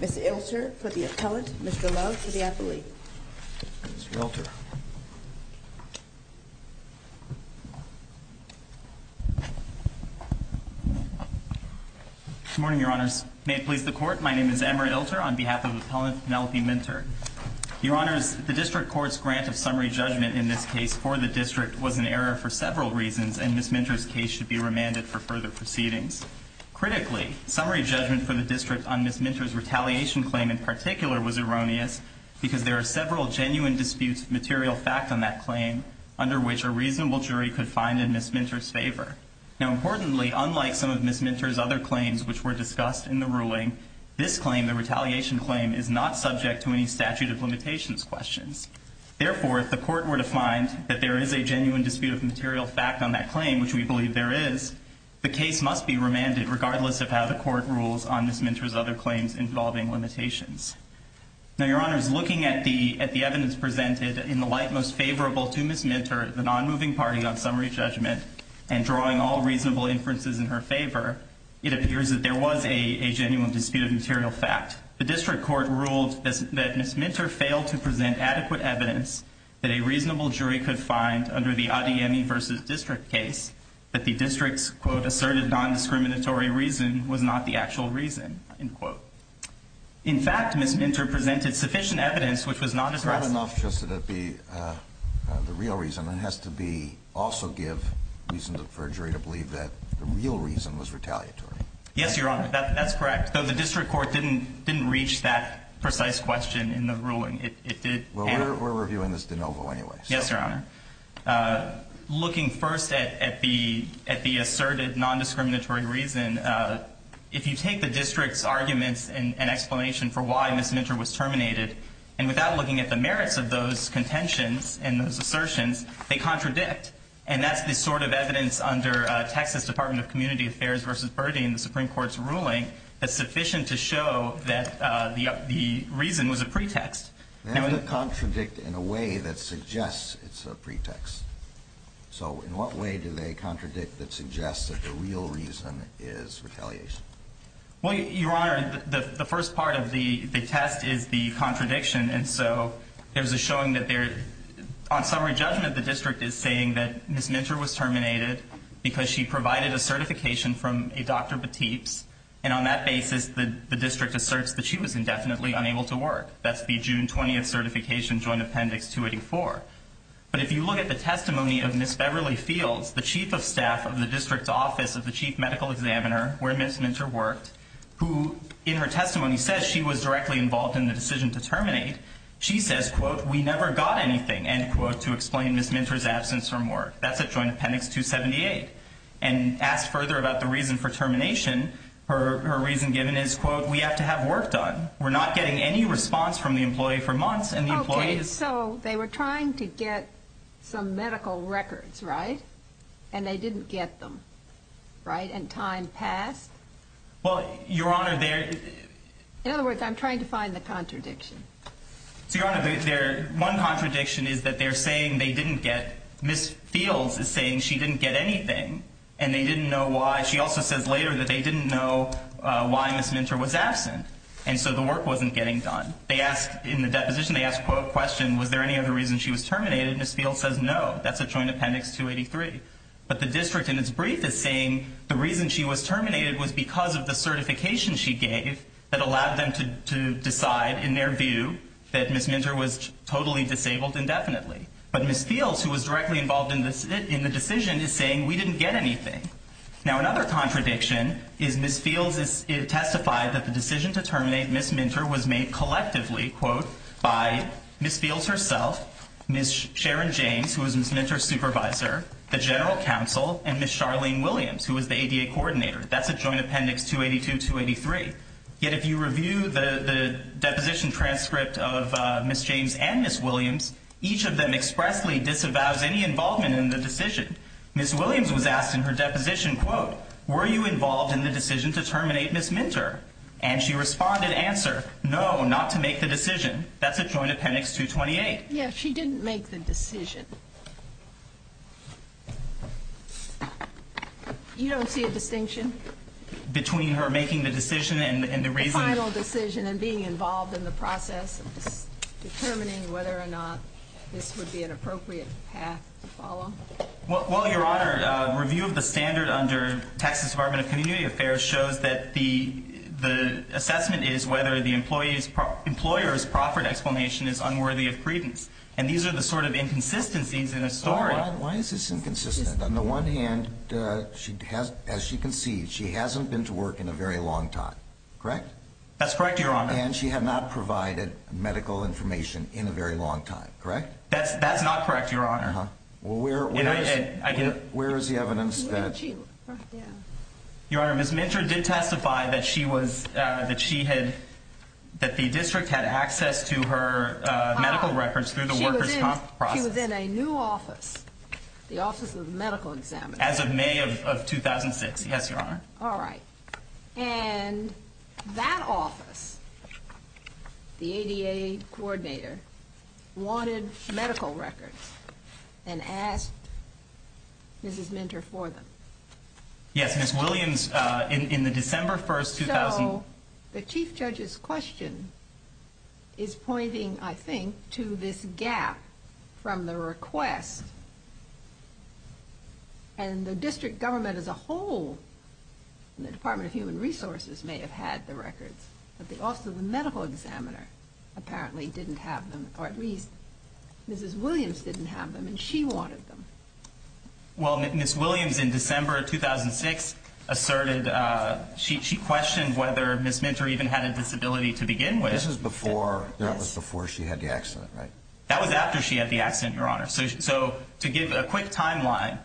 Ms. Ilter, for the Appellant, Mr. Love, for the Appellee. Good morning, Your Honors. May it please the Court, my name is Emmer Ilter on behalf of Appellant Penelope Minter. Your Honors, the District Court's grant of summary judgment in this case for the District was an error for several reasons, and Ms. Minter's case should be remanded for further proceedings. Critically, summary judgment for the District on Ms. Minter's retaliation claim in particular was erroneous, because there are several genuine disputes of material fact on that claim, under which a reasonable jury could find in Ms. Minter's favor. Now, importantly, unlike some of Ms. Minter's other claims which were discussed in the ruling, this claim, the retaliation claim, is not subject to any statute of limitations questions. Therefore, if the Court were to find that there is a genuine dispute of material fact on that claim, which we believe there is, the case must be remanded regardless of how the Court rules on Ms. Minter's other claims involving limitations. Now, Your Honors, looking at the evidence presented in the light most favorable to Ms. Minter, the non-moving party on summary judgment, and drawing all reasonable inferences in her favor, it appears that there was a genuine dispute of material fact. The District Court ruled that Ms. Minter failed to present adequate evidence that a reasonable jury could find under the Adeyemi v. District case, that the District's, quote, asserted non-discriminatory reason was not the actual reason, end quote. In fact, Ms. Minter presented sufficient evidence which was not as- Not enough just to be the real reason. It has to be, also give reason for a jury to believe that the real reason was retaliatory. Yes, Your Honor, that's correct. Though the District Court didn't reach that precise question in the ruling. It did- Well, we're reviewing this de novo anyway, so- Yes, Your Honor. Looking first at the asserted non-discriminatory reason, if you take the District's arguments and explanation for why Ms. Minter was terminated, and without looking at the merits of those contentions and those assertions, they contradict. And that's the sort of evidence under Texas Department of Community Affairs v. Burdey in the Supreme that the reason was a pretext. They have to contradict in a way that suggests it's a pretext. So, in what way do they contradict that suggests that the real reason is retaliation? Well, Your Honor, the first part of the test is the contradiction, and so there's a showing that there- On summary judgment, the District is saying that Ms. Minter was terminated because she provided a certification from a Dr. Batibs, and on that basis, the District asserts that she was indefinitely unable to work. That's the June 20th certification, Joint Appendix 284. But if you look at the testimony of Ms. Beverly Fields, the Chief of Staff of the District's Office of the Chief Medical Examiner, where Ms. Minter worked, who in her testimony says she was directly involved in the decision to terminate, she says, quote, we never got anything, end quote, to explain Ms. Minter's absence from work. That's at Joint Appendix 278. And asked further about the reason for termination, her reason given is, quote, we have to have work done. We're not getting any response from the employee for months, and the employee is- Okay, so they were trying to get some medical records, right? And they didn't get them, right? And time passed? Well, Your Honor, there- In other words, I'm trying to find the contradiction. So, Your Honor, there- One contradiction is that they're saying they didn't get- Ms. Fields is saying she didn't get anything, and they didn't know why. She also says later that they didn't know why Ms. Minter was absent, and so the work wasn't getting done. They asked- In the deposition, they asked, quote, question, was there any other reason she was terminated? Ms. Fields says no. That's at Joint Appendix 283. But the district in its brief is saying the reason she was terminated was because of the certification she gave that allowed them to decide, in their view, that Ms. Minter was totally disabled indefinitely. But Ms. Fields, who was directly involved in the decision, is saying we didn't get anything. Now another contradiction is Ms. Fields testified that the decision to terminate Ms. Minter was made collectively, quote, by Ms. Fields herself, Ms. Sharon James, who was Ms. Minter's supervisor, the general counsel, and Ms. Charlene Williams, who was the ADA coordinator. That's at Joint Appendix 282, 283. Yet if you review the deposition transcript of Ms. James and Ms. Williams, each of them expressly disavows any involvement in the decision. Ms. Williams was asked in her deposition, quote, were you involved in the decision to terminate Ms. Minter? And she responded, answer, no, not to make the decision. That's at Joint Appendix 228. Yeah, she didn't make the decision. You don't see a distinction? Between her making the decision and the reason? The final decision and being involved in the process of determining whether or not this would be an appropriate path to follow? Well, Your Honor, review of the standard under Texas Department of Community Affairs shows that the assessment is whether the employer's proffered explanation is unworthy of credence. And these are the sort of inconsistencies in the story. Why is this inconsistent? On the one hand, as you can see, she hasn't been to work in a very long time, correct? That's correct, Your Honor. And she had not provided medical information in a very long time, correct? That's not correct, Your Honor. Where is the evidence that? Your Honor, Ms. Minter did testify that she was, that she had, that the district had access to her medical records through the workers' comp process. She was in a new office, the Office of Medical Examiner. As of May of 2006, yes, Your Honor. All right. And that office, the ADA coordinator, wanted medical records and asked Mrs. Minter for them. Yes, Ms. Williams, in the December 1st, 2000... So, the Chief Judge's question is pointing, I think, to this gap from the request. And the district government as a whole, the Department of Human Resources may have had the records, but also the medical examiner apparently didn't have them, or at least Mrs. Williams didn't have them, and she wanted them. Well, Ms. Williams, in December 2006, asserted, she questioned whether Ms. Minter even had a disability to begin with. This is before, that was before she had the accident, right? That was after she had the accident, Your Honor. So, to give a quick timeline,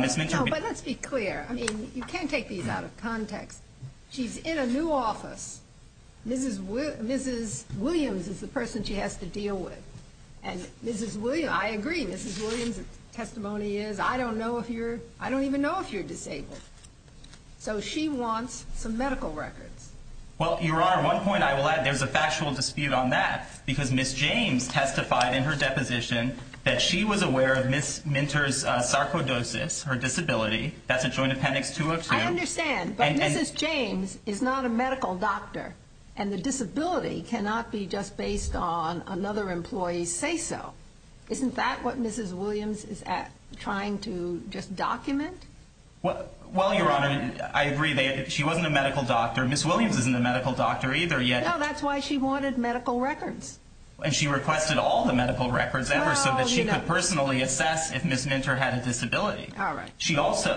Ms. Minter... No, but let's be clear. I mean, you can't take these out of context. She's in a new office. Mrs. Williams is the person she has to deal with. And Mrs. Williams, I agree, Mrs. Williams' testimony is, I don't know if you're, I don't even know if you're disabled. So, she wants some medical records. Well, Your Honor, one point I will add, there's a factual dispute on that, because Ms. James testified in her deposition that she was aware of Ms. Minter's sarcoidosis, her disability. That's in Joint Appendix 202. I understand, but Mrs. James is not a medical doctor, and the disability cannot be just based on another employee's say-so. Isn't that what Mrs. Williams is trying to just document? Well, Your Honor, I agree. She wasn't a medical doctor. Ms. Williams isn't a medical doctor either, yet. Well, that's why she wanted medical records. And she requested all the medical records ever, so that she could personally assess if Ms. Minter had a disability.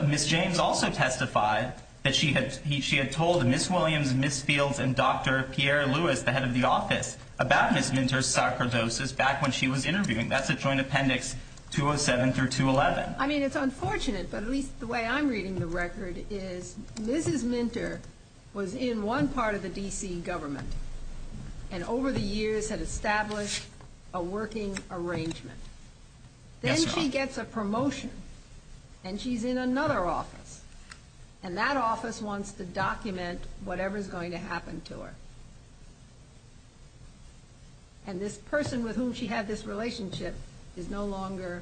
Ms. James also testified that she had told Ms. Williams, Ms. Fields, and Dr. Pierre Lewis, the head of the office, about Ms. Minter's sarcoidosis back when she was interviewing. That's at Joint Appendix 207 through 211. I mean, it's unfortunate, but at least the way I'm reading the record is, Mrs. Minter was in one part of the D.C. government, and over the years had established a working arrangement. Then she gets a promotion, and she's in another office. And that office wants to document whatever's going to happen to her. And this person with whom she had this relationship is no longer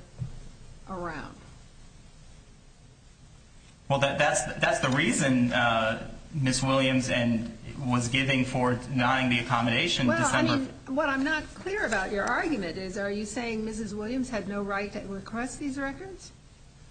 around. Well, that's the reason Ms. Williams was giving for denying the accommodation in December. Well, I mean, what I'm not clear about your argument is, are you saying Mrs. Williams had no right to request these records?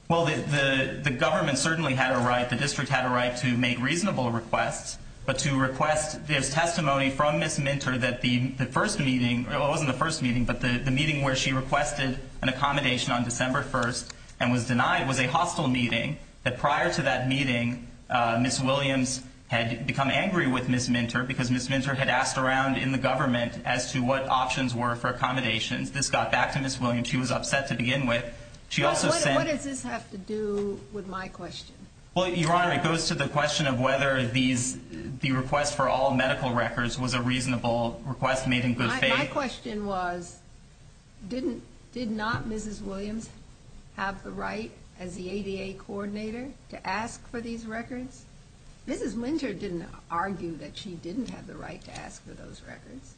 Well, the government certainly had a right, the district had a right, to make reasonable requests. But to request this testimony from Ms. Minter that the first meeting, well, it wasn't the first meeting, but the meeting where she requested an accommodation on December 1st and was denied was a hostile meeting. Prior to that meeting, Ms. Williams had become angry with Ms. Minter because Ms. Minter had asked around in the government as to what options were for accommodations. This got back to Ms. Williams. She was upset to begin with. What does this have to do with my question? Well, Your Honor, it goes to the question of whether the request for all medical records was a reasonable request made in good faith. My question was, did not Mrs. Williams have the right as the ADA coordinator to ask for these records? Mrs. Minter didn't argue that she didn't have the right to ask for those records.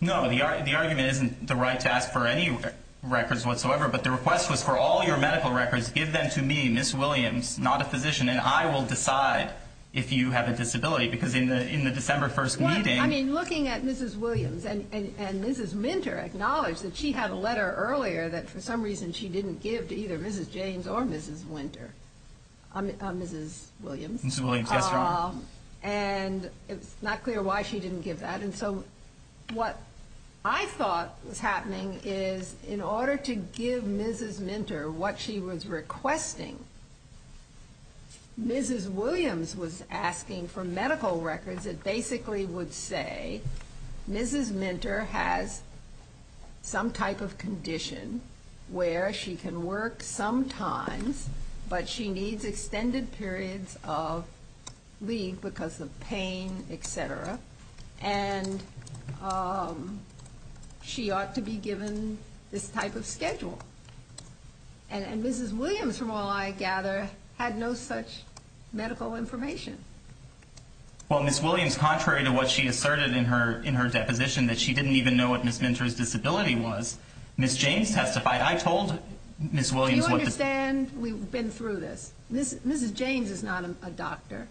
No, the argument isn't the right to ask for any records whatsoever, but the request was for all your medical records, give them to me, Ms. Williams, not a physician, and I will decide if you have a disability because in the December 1st meeting... I mean, looking at Mrs. Williams and Mrs. Minter acknowledged that she had a letter earlier that for some reason she didn't give to either Mrs. James or Mrs. Winter, Mrs. Williams. Mrs. Williams, yes, Your Honor. And it's not clear why she didn't give that. And so what I thought was happening is in order to give Mrs. Minter what she was requesting, Mrs. Williams was asking for medical records that basically would say Mrs. Minter has some type of condition where she can work sometimes, but she needs extended periods of leave because of pain, et cetera, and she ought to be given this type of schedule. And Mrs. Williams, from all I gather, had no such medical information. Well, Ms. Williams, contrary to what she asserted in her deposition that she didn't even know what Ms. Minter's disability was, Ms. James testified. I told Ms. Williams what the... Do you understand? We've been through this. Mrs. James is not a doctor.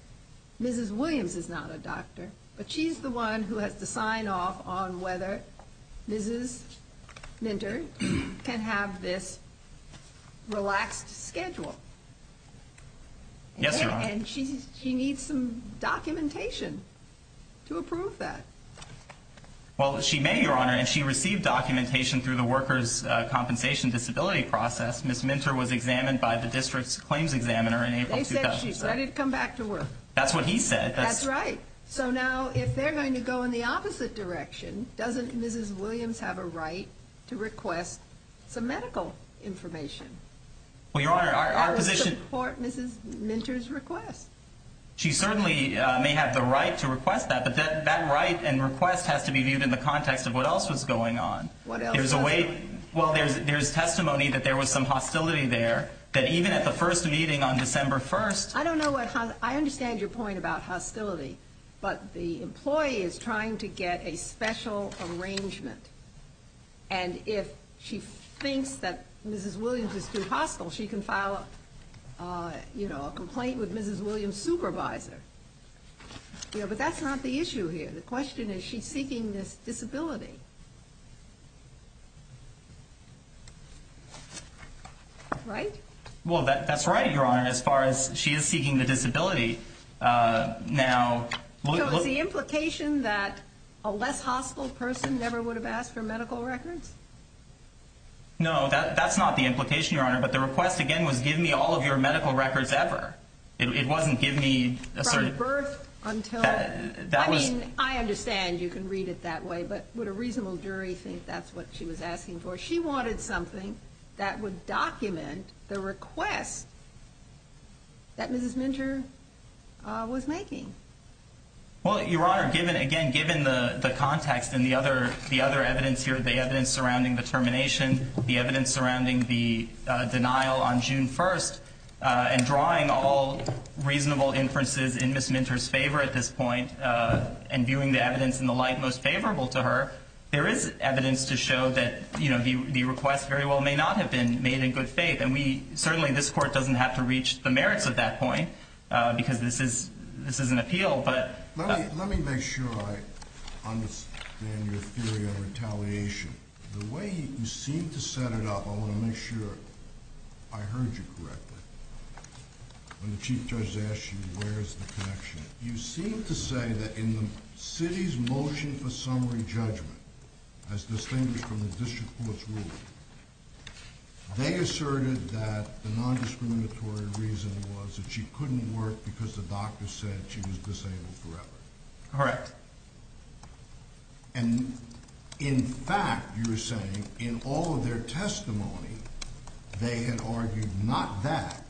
Mrs. Williams is not a doctor. But she's the one who has to sign off on whether Mrs. Minter can have this relaxed schedule. Yes, Your Honor. And she needs some documentation to approve that. Well, she may, Your Honor. And she received documentation through the workers' compensation disability process. Ms. Minter was examined by the district's claims examiner in April 2007. They said she's ready to come back to work. That's what he said. That's right. So now, if they're going to go in the opposite direction, doesn't Mrs. Williams have a right to request some medical information? Well, Your Honor, our position... To support Mrs. Minter's request. She certainly may have the right to request that, but that right and request has to be viewed in the context of what else was going on. What else was going on? Well, there's testimony that there was some hostility there, that even at the first meeting on December 1st... I don't know what... I understand your point about hostility, but the employee is trying to get a special arrangement. And if she thinks that Mrs. Williams is too hostile, she can file a complaint with Mrs. Williams' supervisor. But that's not the issue here. The question is, she's seeking this disability. Right? Well, that's right, Your Honor. As far as she is seeking the disability, now... So is the implication that a less hostile person never would have asked for medical records? No, that's not the implication, Your Honor. But the request, again, was give me all of your medical records ever. It wasn't give me... From birth until... I mean, I understand you can read it that way, but would a reasonable jury think that's what she was asking for? That she wanted something that would document the request that Mrs. Minter was making? Well, Your Honor, given... Again, given the context and the other evidence here, the evidence surrounding the termination, the evidence surrounding the denial on June 1st, and drawing all reasonable inferences in Ms. Minter's favor at this point, and viewing the evidence in the light most favorable to her, there is evidence to show that, you know, the request very well may not have been made in good faith. And we... Certainly, this Court doesn't have to reach the merits of that point because this is an appeal, but... Let me make sure I understand your theory on retaliation. The way you seem to set it up, I want to make sure I heard you correctly. When the Chief Judge asks you, where is the connection, you seem to say that in the city's motion for summary judgment, as distinguished from the district court's ruling, they asserted that the nondiscriminatory reason was that she couldn't work because the doctor said she was disabled forever. Correct. And, in fact, you're saying, in all of their testimony, they had argued not that,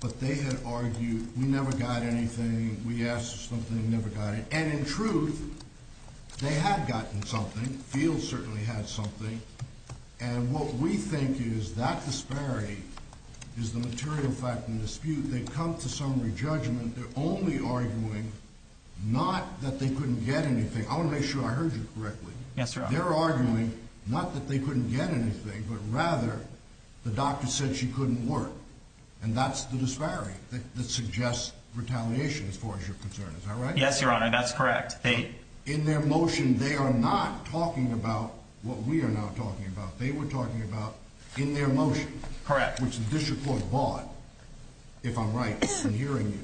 but they had argued, we never got anything, we asked for something, never got it. And, in truth, they had gotten something. Fields certainly had something. And what we think is that disparity is the material fact of the dispute. They've come to summary judgment. They're only arguing not that they couldn't get anything. I want to make sure I heard you correctly. Yes, Your Honor. They're arguing not that they couldn't get anything, but rather the doctor said she couldn't work. And that's the disparity that suggests retaliation as far as your concern. Is that right? Yes, Your Honor, that's correct. In their motion, they are not talking about what we are now talking about. They were talking about, in their motion, which the district court bought, if I'm right in hearing you,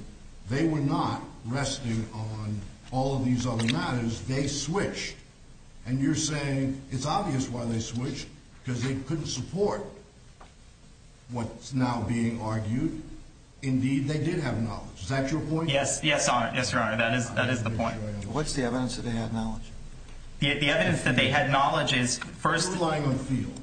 they were not resting on all of these other matters. They switched. And you're saying it's obvious why they switched, because they couldn't support what's now being argued. Indeed, they did have knowledge. Is that your point? Yes, Your Honor, that is the point. What's the evidence that they had knowledge? The evidence that they had knowledge is first... You're relying on Fields,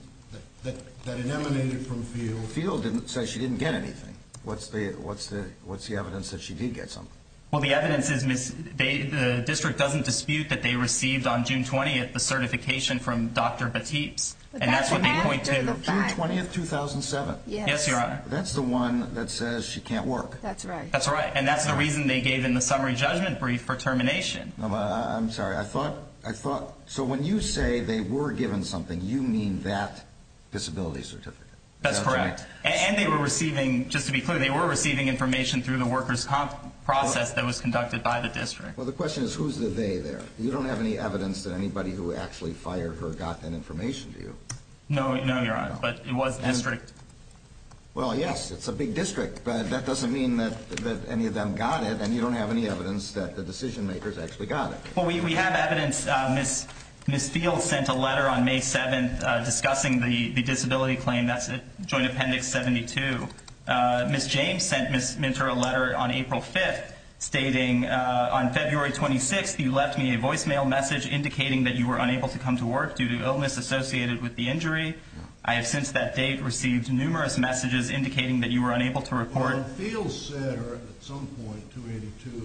that it emanated from Fields. Fields said she didn't get anything. What's the evidence that she did get something? Well, the evidence is the district doesn't dispute that they received on June 20 the certification from Dr. Batibs. And that's what they point to. June 20, 2007. Yes, Your Honor. That's the one that says she can't work. That's right. And that's the reason they gave in the summary judgment brief for termination. I'm sorry. I thought... So when you say they were given something, you mean that disability certificate. That's correct. And they were receiving, just to be clear, they were receiving information through the workers' comp process that was conducted by the district. Well, the question is, who's the they there? You don't have any evidence that anybody who actually fired her got that information, do you? No, Your Honor. But it was the district. Well, yes. It's a big district. But that doesn't mean that any of them got it. And you don't have any evidence that the decision-makers actually got it. Well, we have evidence. Ms. Fields sent a letter on May 7, discussing the disability claim. That's Joint Appendix 72. Ms. James sent Ms. Minter a letter on April 5, stating, on February 26, you left me a voicemail message indicating that you were unable to come to work due to illness associated with the injury. I have since that date received numerous messages indicating that you were unable to report. Well, Fields said at some point, 2-82,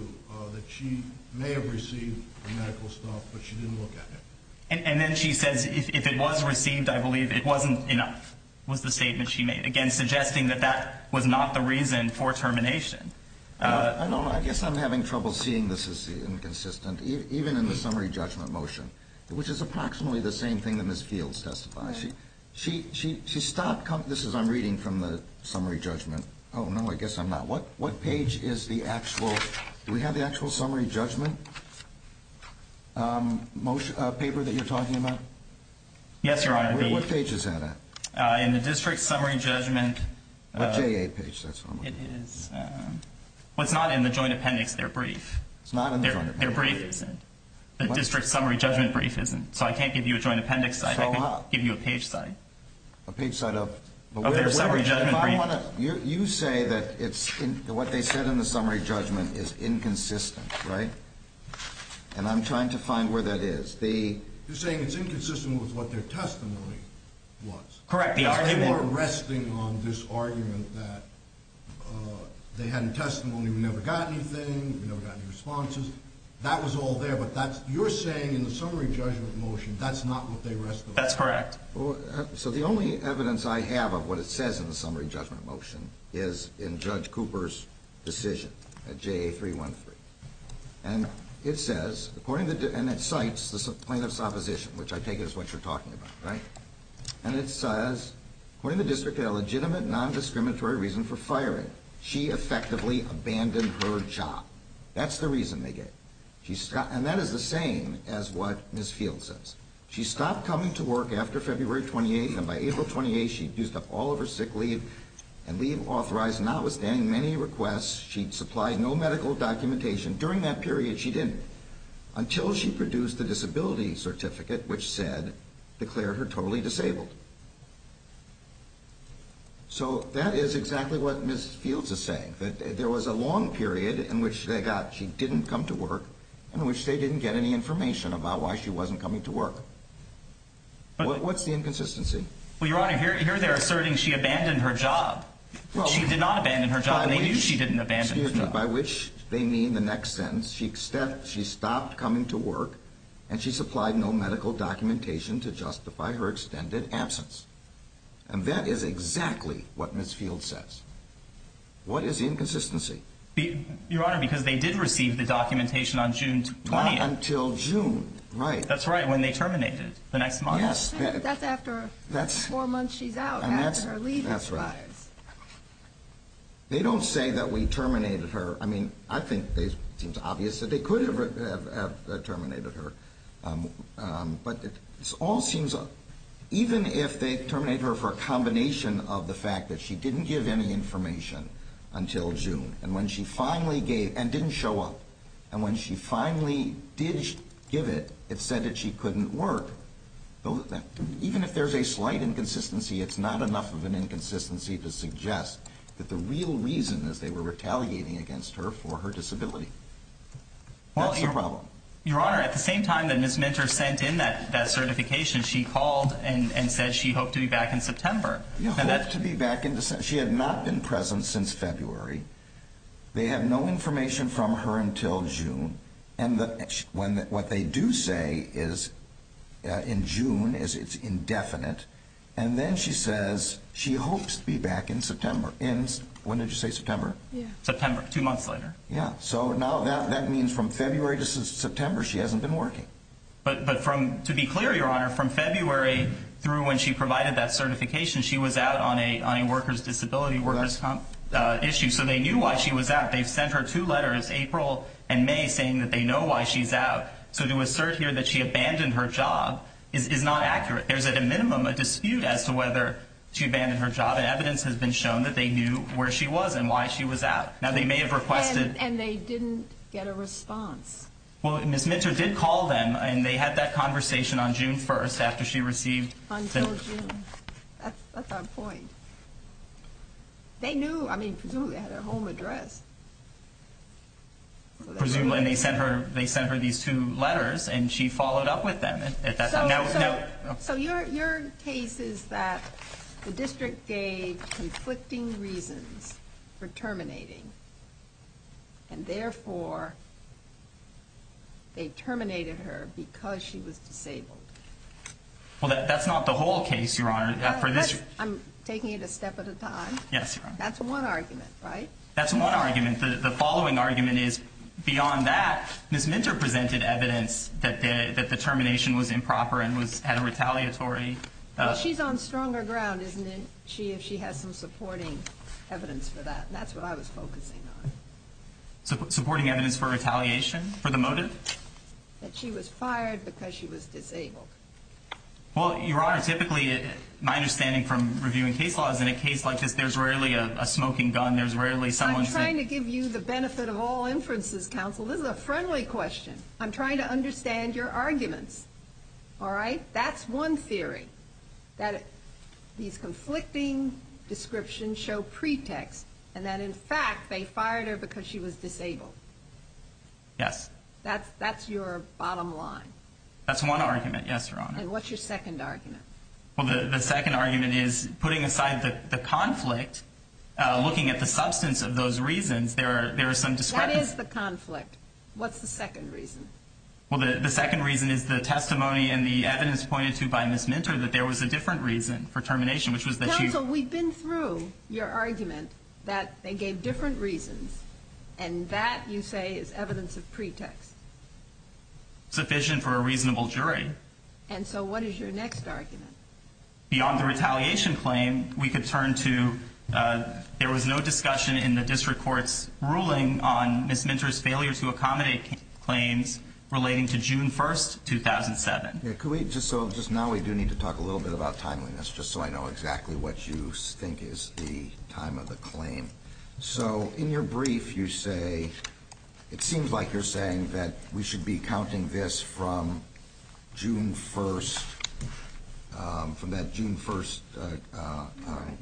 that she may have received the medical stuff, but she didn't look at it. And then she says, if it was received, I believe it wasn't enough, was the statement she made. Again, suggesting that that was not the reason for termination. I don't know. I guess I'm having trouble seeing this as inconsistent, even in the summary judgment motion, which is approximately the same thing that Ms. Fields testifies. She stopped coming... This is, I'm reading from the summary judgment. Oh, no, I guess I'm not. What page is the actual... Do we have the actual summary judgment paper that you're talking about? Yes, Your Honor. In the district summary judgment... The JA page, that's what I'm looking for. It is... Well, it's not in the joint appendix, their brief. It's not in the joint appendix? Their brief isn't. The district summary judgment brief isn't. So I can't give you a joint appendix side, I can give you a page side. A page side of... Of their summary judgment brief. You say that what they said in the summary judgment is inconsistent, right? And I'm trying to find where that is. You're saying it's inconsistent with what their testimony was. Correct. They were resting on this argument that they had a testimony, we never got anything, we never got any responses. That was all there, but that's... You're saying in the summary judgment motion that's not what they rested on. That's correct. So the only evidence I have of what it says in the summary judgment motion is in Judge Cooper's decision, at JA 313. And it says, according to... And it cites the plaintiff's opposition, which I take as what you're talking about, right? And it says, when the district had a legitimate, non-discriminatory reason for firing, she effectively abandoned her job. That's the reason they gave. And that is the same as what Ms. Field says. She stopped coming to work after February 28th, and by April 28th, she'd used up all of her sick leave, and leave authorized, notwithstanding many requests, she'd supplied no medical documentation. During that period, she didn't. Until she produced the disability certificate, which said, declared her totally disabled. So that is exactly what Ms. Fields is saying, that there was a long period in which they got, she didn't come to work, in which they didn't get any information about why she wasn't coming to work. What's the inconsistency? Well, Your Honor, here they're asserting she abandoned her job. She did not abandon her job, and they knew she didn't abandon her job. By which they mean the next sentence, she stopped coming to work, and she supplied no medical documentation to justify her extended absence. And that is exactly what Ms. Fields says. What is the inconsistency? Your Honor, because they did receive the documentation on June 28th. Not until June, right. That's right, when they terminated, the next month. That's after four months she's out, and that's her leave. That's right. They don't say that we terminated her, I mean, I think it seems obvious that they could have terminated her, but it all seems, even if they terminate her for a combination of the fact that she didn't give any information until June, and when she finally gave, and didn't show up, and when she finally did give it, it said that she couldn't work. Even if there's a slight inconsistency, it's not enough of an inconsistency to suggest that the real reason is they were retaliating against her for her disability. That's the problem. Your Honor, at the same time that Ms. Minter sent in that certification, she called and said she hoped to be back in September. She had not been present since February, they have no information from her until June, and what they do say is in June it's indefinite, and then she says she hopes to be back in September. When did you say September? September, two months later. So that means from February to September she hasn't been working. But to be clear, Your Honor, from February through when she provided that certification, she was out on a workers' disability workers' comp issue, so they knew why she was out. They sent her two letters, April and May, saying that they know why she's out. So to assert here that she abandoned her job is not accurate. There's at a minimum a dispute as to whether she abandoned her job, and evidence has been shown that they knew where she was and why she was out. Now they may have requested... And they didn't get a response. Well, Ms. Minter did call them, and they had that conversation on June 1st after she received... Until June, that's odd point. They knew, I mean, presumably they had her home address. Presumably, and they sent her these two letters and she followed up with them. So your case is that the district gave conflicting reasons for terminating, and therefore they terminated her because she was disabled. Well, that's not the whole case, Your Honor. I'm taking it a step at a time. That's one argument, right? That's one argument. The following argument is beyond that, Ms. Minter presented evidence that the termination was improper and retaliatory. Well, she's on stronger ground, isn't she, if she has some supporting evidence for that. That's what I was focusing on. Supporting evidence for retaliation? For the motive? That she was fired because she was disabled. Well, Your Honor, typically, my understanding from reviewing case law is in a case like this, there's rarely a smoking gun, there's rarely someone... I'm trying to give you the benefit of all inferences, counsel. This is a friendly question. I'm trying to understand your arguments. Alright? That's one theory. That these conflicting descriptions show pretext, and that in fact they fired her because she was disabled. Yes. That's your bottom line. That's one argument, yes, Your Honor. And what's your second argument? Well, the second argument is, putting aside the conflict, looking at the substance of those reasons, there are some descriptions... What is the conflict? What's the second reason? Well, the second reason is the testimony and the evidence pointed to by Ms. Minter that there was a different reason for termination, which was that she... Counsel, we've been through your argument that they gave different reasons, and that you say is evidence of pretext. Sufficient for a reasonable jury. And so what is your next argument? Beyond the retaliation claim, we could turn to, uh, there was no discussion in the district court's ruling on Ms. Minter's failure to accommodate claims relating to June 1st, 2007. Yeah, could we, just so, just now we do need to talk a little bit about timeliness, just so I know exactly what you think is the time of the claim. So in your brief, you say it seems like you're saying that we should be counting this from June 1st, um, from that June 1st, uh,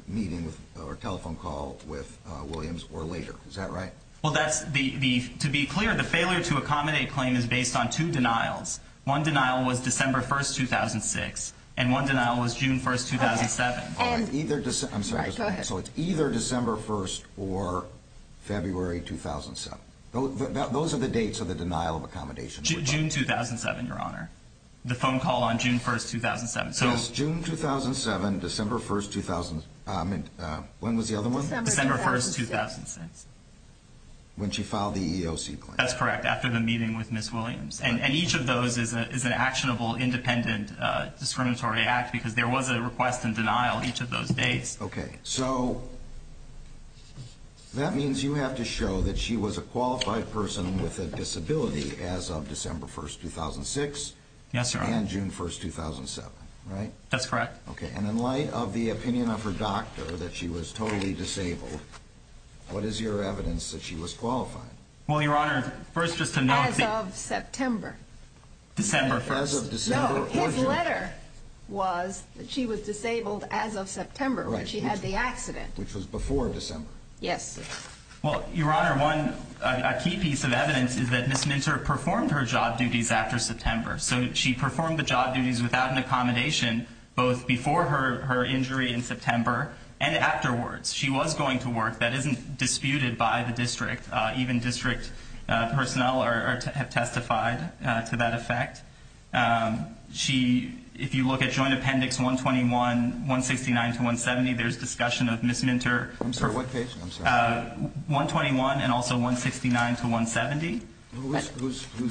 meeting or telephone call with Williams or later. Is that right? Well, that's the, the, to be clear, the failure to accommodate claim is based on two denials. One denial was December 1st, 2006, and one denial was June 1st, 2007. I'm sorry, so it's either December 1st or February 2007. Those are the dates of the denial of accommodation. June 2007, Your Honor. The phone call on June 1st, 2007. So it's June 2007, December 1st, 2000, um, when was the other one? December 1st, 2006. When she filed the EEOC claim. That's correct, after the meeting with Ms. Williams. And each of those is an actionable, independent discriminatory act because there was a request and denial each of those dates. Okay, so that means you have to show that she was a qualified person with a disability as of December 1st, 2006. Yes, Your Honor. And June 1st, 2007, right? That's correct. Okay, and in light of the opinion of her doctor that she was totally disabled, what is your evidence that she was qualified? Well, Your Honor, first just to know... As of September. December 1st. As of December or June? No, his letter was that she was disabled as of September when she had the accident. Which was before December. Yes. Well, Your Honor, one key piece of evidence is that Ms. Mintzer performed her job duties after September. So she performed the job duties without an accommodation both before her injury in She was going to work. That isn't disputed by the district. Even district personnel have testified to that effect. She... If you look at Joint Appendix 121 169 to 170, there's discussion of Ms. Mintzer... I'm sorry, what page? 121 and also 169 to 170. Whose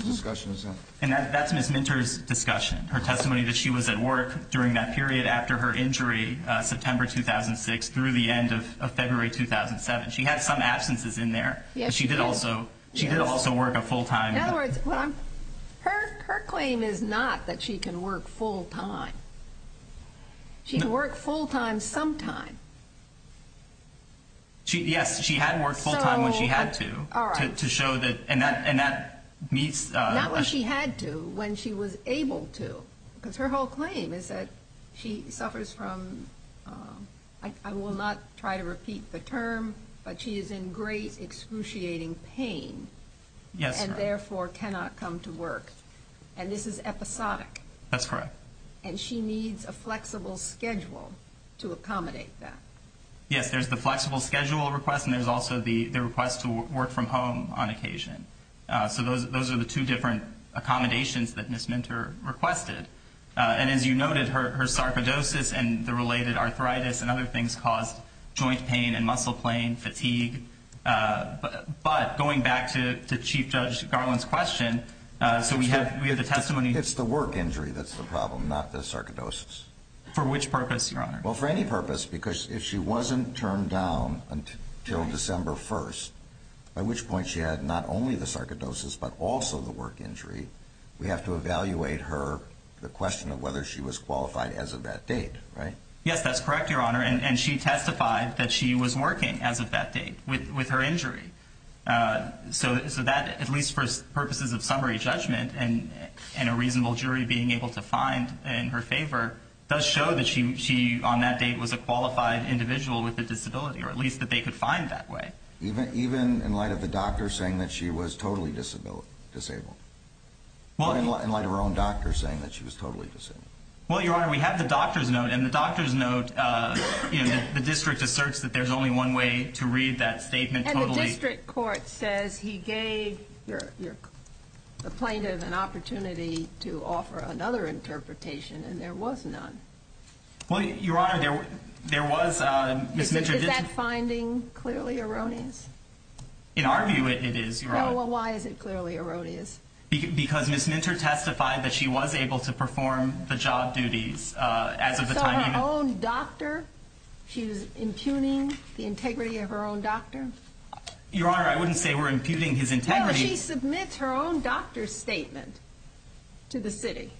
discussion is that? That's Ms. Mintzer's discussion. Her testimony that she was at work during that period after her injury, September 2006 through the end of February 2007. She had some absences in there. She did also work a full-time... Her claim is not that she can work full-time. She can work full-time sometime. Yes, she had worked full-time when she had to. To show that... Not when she had to. When she was able to. Her whole claim is that she I will not try to repeat the term, but she is in great excruciating pain and therefore cannot come to work. And this is episodic. That's correct. And she needs a flexible schedule to accommodate that. Yes, there's the flexible schedule request and there's also the request to work from home on occasion. So those are the two different accommodations that Ms. Mintzer requested. And as you noted, her sarcoidosis and the related arthritis and other things caused joint pain and muscle pain, fatigue, but going back to Chief Judge Garland's question, we have the testimony... It's the work injury that's the problem, not the sarcoidosis. For which purpose, Your Honor? Well, for any purpose, because if she wasn't turned down until December 1st, by which point she had not only the sarcoidosis but also the work injury, we have to evaluate her, the question of whether she was qualified as of that date, right? Yes, that's correct, Your Honor, and she testified that she was working as of that date with her injury. So that, at least for purposes of summary judgment and a reasonable jury being able to find in her favor, does show that she, on that date, was a qualified individual with a disability, or at least that they could find that way. Even in light of the doctor saying that she was totally disabled? Or in light of her own doctor saying that she was totally disabled? Well, Your Honor, we have the doctor's note, and the doctor's note the district asserts that there's only one way to read that statement totally. And the district court says he gave the plaintiff an opportunity to offer another interpretation and there was none. Well, Your Honor, there was Ms. Minter... Is that finding clearly erroneous? In our view, it is, Your Honor. Well, why is it clearly erroneous? Because Ms. Minter testified that she was able to perform the job duties as of the time... So her own doctor, she was impugning the integrity of her own doctor? Your Honor, I wouldn't say we're impugning his integrity... Well, she submits her own doctor's statement to the city.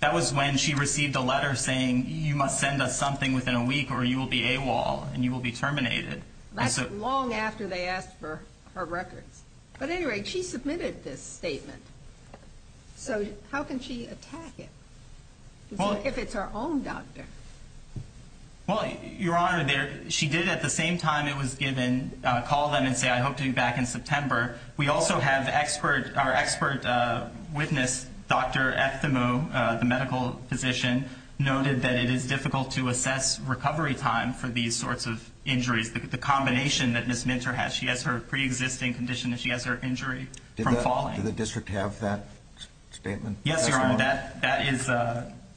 That was when she received a letter saying, you must send us something within a week or you will be AWOL and you will be terminated. That's long after they asked for her records. At any rate, she submitted this statement. So, how can she attack it? If it's her own doctor? Well, Your Honor, she did at the same time it was given call them and say, I hope to be back in September. We also have our expert witness Dr. Efthimo, the medical physician, noted that it is difficult to assess recovery time for these sorts of injuries. The combination that Ms. Minter has, that she has her pre-existing condition, that she has her injury from falling. Did the district have that statement? Yes, Your Honor.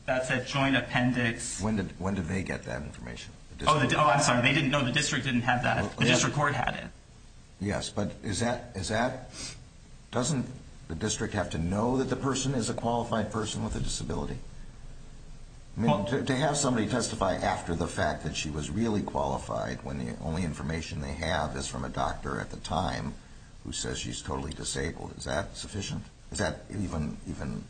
That's a joint appendix. When did they get that information? Oh, I'm sorry. No, the district didn't have that. The district court had it. Yes, but is that... Doesn't the district have to know that the person is a qualified person with a disability? To have somebody testify after the fact that she was really qualified when the only information they have is from a doctor at the time who says she's totally disabled. Is that sufficient? Is that even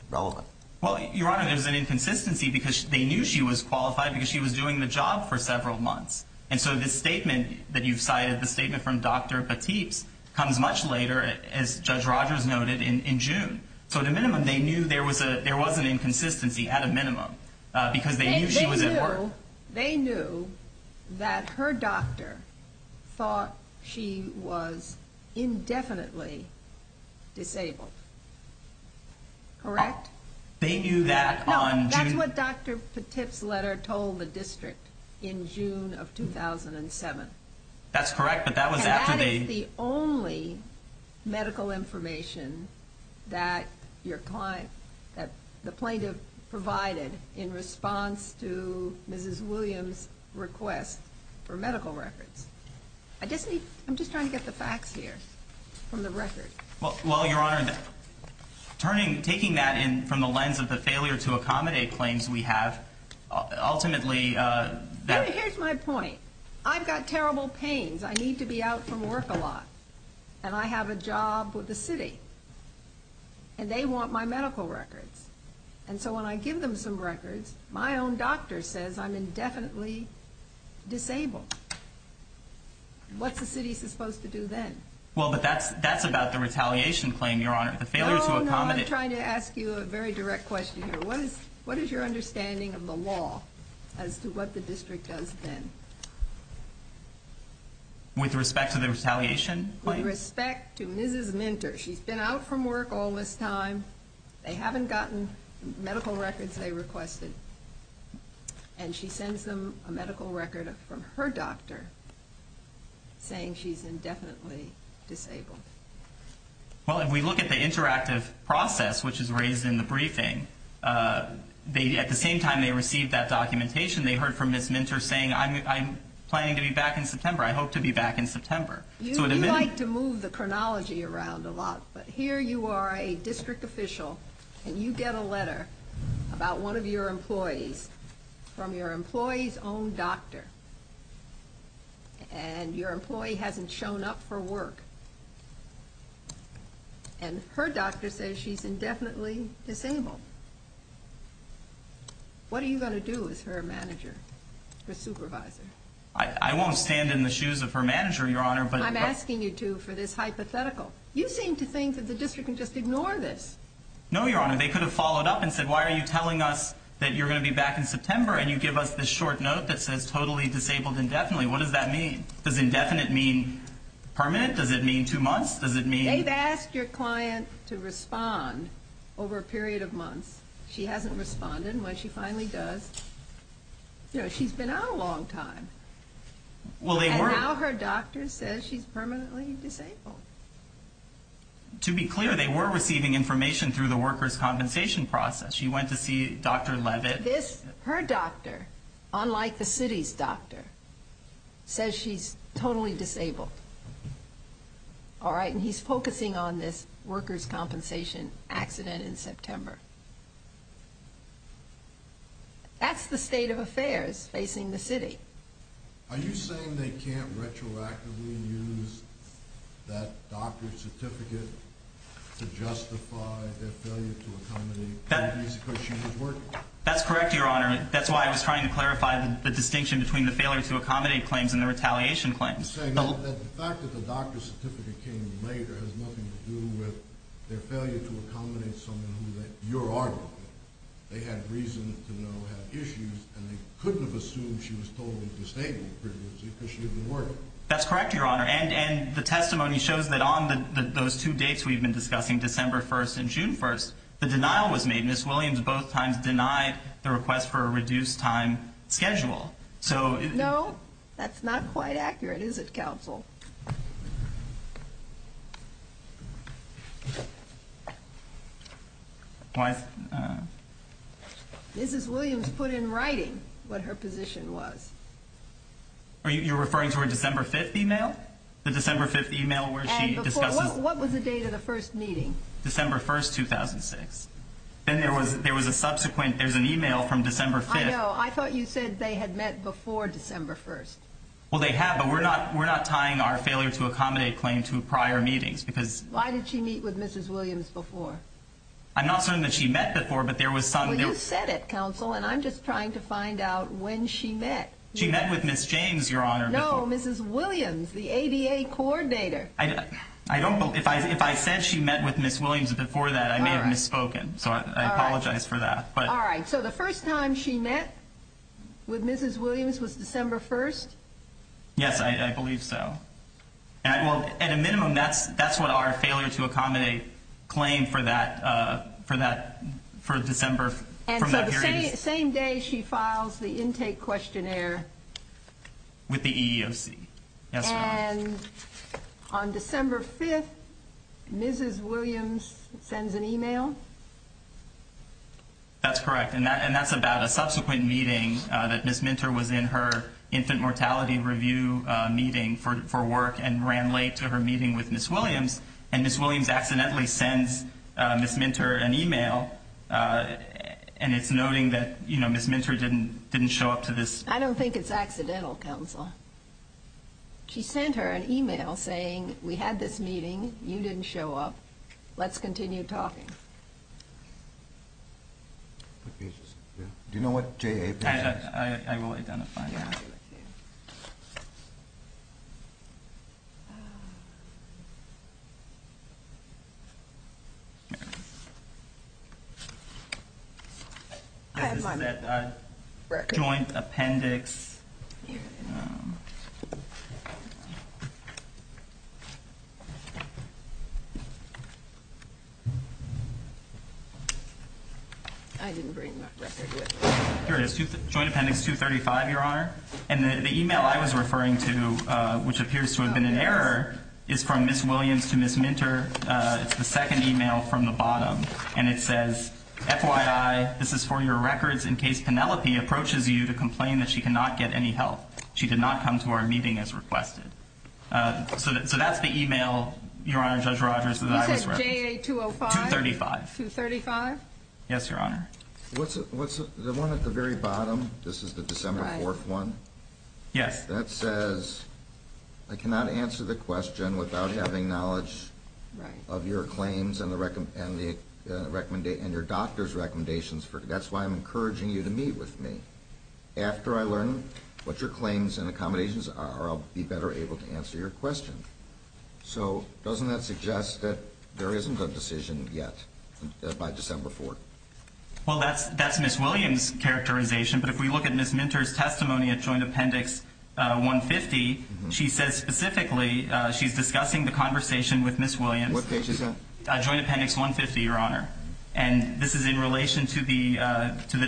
relevant? Well, Your Honor, there's an inconsistency because they knew she was qualified because she was doing the job for several months. And so this statement that you've cited, the statement from Dr. Batteeps, comes much later, as Judge Rogers noted, in June. So at a minimum, they knew there was an inconsistency at a minimum because they knew she was at work. So they knew that her doctor thought she was indefinitely disabled. No, that's what Dr. Batteeps' letter told the district in June of 2007. That's correct, but that was after they... And that is the only medical information that your client, that the plaintiff provided in response to Mrs. Williams' request for medical records. I'm just trying to get the facts here from the record. Well, Your Honor, taking that from the lens of the failure to accommodate claims we have, ultimately... Here's my point. I've got terrible pains. I need to be out from work a lot. And I have a job with the city. And they want my medical records. And so when I give them some records, my own doctor says I'm indefinitely disabled. What's the city supposed to do then? Well, but that's about the retaliation claim, Your Honor. The failure to accommodate... I'm trying to ask you a very direct question here. What is your understanding of the law as to what the district does then? With respect to the retaliation? With respect to Mrs. Minter. She's been out from work all this time. They haven't gotten medical records they requested. And she sends them a medical record from her doctor saying she's indefinitely disabled. Well, if we look at the interactive process which is raised in the briefing, at the same time they received that documentation, they heard from Mrs. Minter saying, I'm planning to be back in September. I hope to be back in September. You like to move the chronology around a lot. But here you are a district official and you get a letter about one of your employees from your employee's own doctor and your employee hasn't shown up for work and her doctor says she's indefinitely disabled. What are you going to do with her manager? Her supervisor? I won't stand in the shoes of her manager, Your Honor, but... I'm asking you to for this hypothetical. You seem to think that the district can just ignore this. No, Your Honor. They could have followed up and said, why are you telling us that you're going to be back in September and you give us this short note that says totally disabled indefinitely. What does that mean? Does indefinite mean permanent? Does it mean two months? Does it mean... They've asked your client to respond over a period of months. She hasn't responded and when she finally does, you know, she's been out a long time. And now her doctor says she's permanently disabled. To be clear, they were receiving information through the workers' compensation process. She went to see Dr. Leavitt. Her doctor, unlike the city's doctor, says she's totally disabled. Alright, and he's focusing on this workers' compensation accident in September. That's the state of affairs facing the city. Are you saying they can't retroactively use that doctor's certificate to justify their failure to accommodate because she was working? That's correct, Your Honor. That's why I was trying to clarify the distinction between the failure to accommodate claims and the retaliation claims. The fact that the doctor's certificate came later has nothing to do with their failure to accommodate someone that you're arguing. They had reason to know had issues and they couldn't have assumed she was totally disabled. That's correct, Your Honor. And the testimony shows that on those two dates we've been discussing, December 1st and June 1st, the denial was made. Ms. Williams both times denied the request for a reduced time schedule. No, that's not quite accurate, is it, counsel? Mrs. Williams put in writing what her position was. You're referring to her December 5th email? The December 5th email where she discusses... What was the date of the first meeting? December 1st, 2006. Then there was a subsequent email from December 5th. I know. I thought you said they had met before December 1st. Well, they have, but we're not tying our failure to accommodate claim to prior meetings. Why did she meet with Mrs. Williams before? I'm not saying that she met before, but there was some... Well, you said it, counsel, and I'm just trying to find out when she met. She met with Ms. James, Your Honor. No, Mrs. Williams, the ADA coordinator. I don't believe... If I said she met with Ms. Williams before that, I may have misspoken. So I apologize for that. So the first time she met with Mrs. Williams was December 1st? Yes, I believe so. At a minimum, that's what our failure to accommodate claim for that for December... And so the same day she files the intake questionnaire with the EEOC? Yes, Your Honor. And on December 5th, Mrs. Williams sends an email? That's correct, and that's about a subsequent meeting that Ms. Minter was in her infant mortality review meeting for work and ran late to her meeting with Ms. Williams, and Ms. Williams accidentally sends Ms. Minter an email and it's noting that Ms. Minter didn't show up to this... I don't think it's accidental, Counselor. She sent her an email saying, we had this meeting, you didn't show up, let's continue talking. Do you know what JA... I will identify it. There it is. I have my record. Joint Appendix... I didn't bring my record with me. Here it is, Joint Appendix 235, Your Honor. And the email I was referring to, which appears to have been an error, is from Ms. Williams to Ms. Minter. It's the second email from the bottom and it says, FYI, this is for your records, in case Penelope approaches you to complain that she cannot get any help. She did not come to our meeting as requested. So that's the email, Your Honor, Judge Rogers, that I was referring to. You said JA 205? 235. Yes, Your Honor. What's the one at the very bottom? This is the December 4th one? Yes. That says, I cannot answer the question without having knowledge of your claims and your doctor's recommendations. That's why I'm encouraging you to meet with me. After I learn what your claims and accommodations are, I'll be better able to answer your question. So doesn't that suggest that there isn't a decision yet by December 4th? Well, that's Ms. Williams' characterization, but if we look at Ms. Minter's testimony at Joint Appendix 150, she says specifically she's discussing the conversation with Ms. Williams What page is that? Joint Appendix 150, Your Honor. And this is in relation to the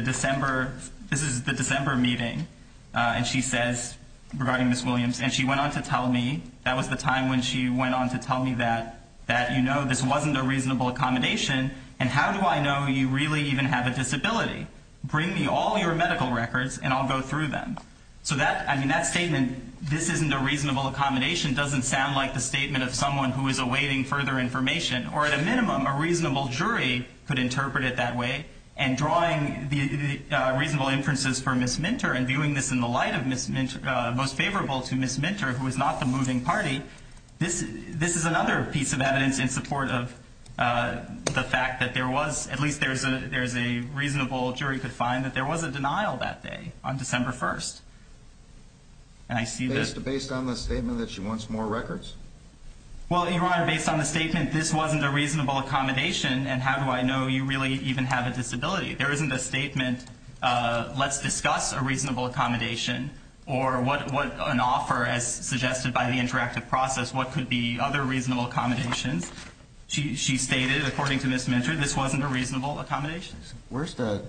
December this is the December meeting and she says regarding Ms. Williams, and she went on to tell me that was the time when she went on to tell me that you know this wasn't a reasonable accommodation and how do I know you really even have a disability? Bring me all your medical records and I'll go through them. So that statement this isn't a reasonable accommodation doesn't sound like the statement of someone who is awaiting further information, or at a minimum a reasonable jury could interpret it that way and drawing the reasonable inferences for Ms. Minter and viewing this in the light of Ms. Minter most favorable to Ms. Minter who is not the moving party this is another piece of evidence in support of the fact that there was at least there's a reasonable jury could find that there was a denial that day, on December 1st Based on the statement that she wants more records? Well, Your Honor, based on the statement this wasn't a reasonable accommodation and how do I know you really even have a disability? There isn't a statement let's discuss a reasonable accommodation or what an offer as suggested by the interactive process what could be other reasonable accommodations. She stated according to Ms. Minter this wasn't a reasonable accommodation. Where's the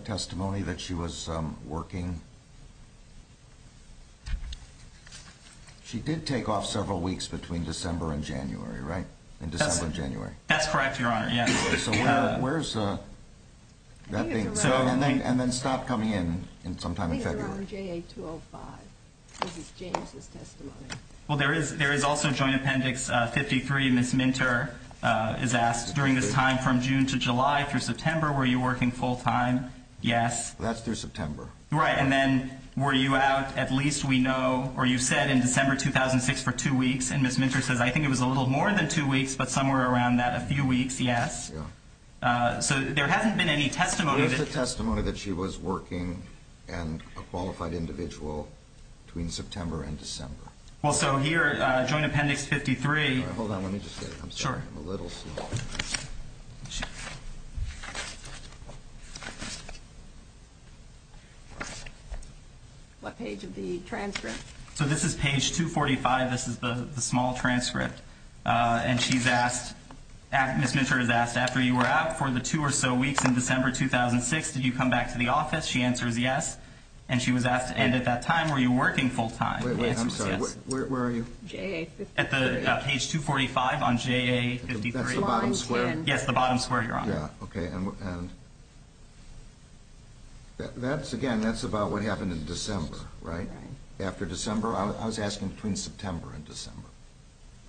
working She did take off several weeks between December and January, right? That's correct, Your Honor. So where's that thing? And then stop coming in sometime in February. I think it's around JA 205 This is James' testimony. There is also Joint Appendix 53 Ms. Minter is asked during this time from June to July through September were you working full time? Yes. That's through September. Right, and then were you out at least we know or you said in December 2006 for two weeks and Ms. Minter says I think it was a little more than two weeks but somewhere around that, a few weeks, yes. So there hasn't been any testimony. There's a testimony that she was working and a qualified individual between September and December. Well, so here Joint Appendix 53 Hold on, let me just see. I'm sorry, I'm a little slow. What page of the transcript? So this is page 245. This is the small transcript and she's asked Ms. Minter is asked after you were out for the two or so weeks in December 2006 did you come back to the office? She answers yes and she was asked and at that time were you working full time? I'm sorry, where are you? At the page 245 on JA 53. That's the bottom square? Yes, the bottom square, Your Honor. Okay, and that's again that's about what happened in December, right? After December? I was asking between September and December.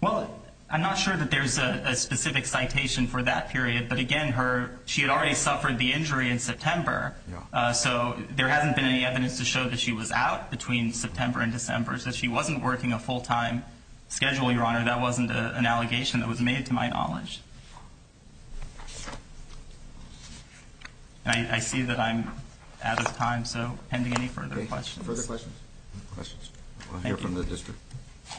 Well, I'm not sure that there's a specific citation for that period but again, she had already suffered the injury in September so there hasn't been any evidence to show that she was out between September and December so she wasn't working a full time schedule, Your Honor. That wasn't an allegation that was made to my knowledge. I see that I'm out of time so pending any further questions. Further questions? We'll hear from the District. Good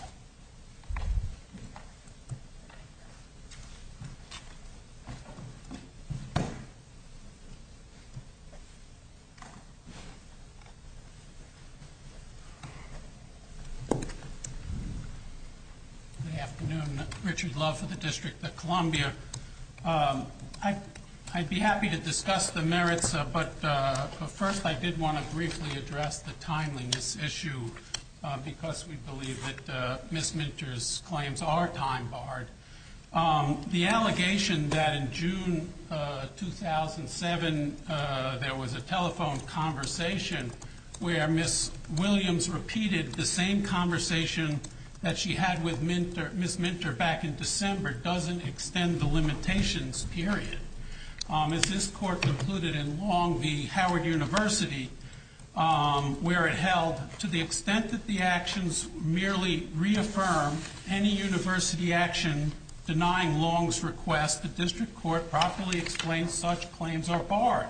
afternoon. Richard Love for the District of Columbia. I'd be happy to discuss the merits but first I did want to briefly address the timeliness issue because we believe that Ms. Minter's claims are time barred. The allegation that in June 2007 there was a telephone conversation where Ms. Williams repeated the same conversation that she had with Ms. Minter back in December doesn't extend the limitations period. As this court concluded in Long v. Howard University where it held, to the extent that the actions merely reaffirm any university action denying Long's request, the District Court properly explains such claims are barred.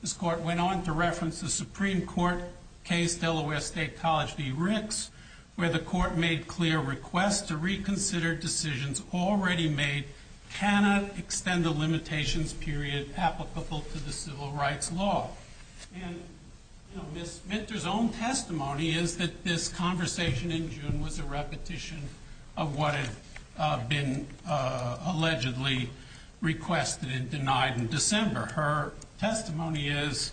This court went on to reference the Supreme Court case, Delaware State College v. Ricks where the court made clear requests to reconsider decisions already made cannot extend the limitations period applicable to the civil rights law. Ms. Minter's own testimony is that this conversation in June was a repetition of what had been allegedly requested and denied in December. Her testimony is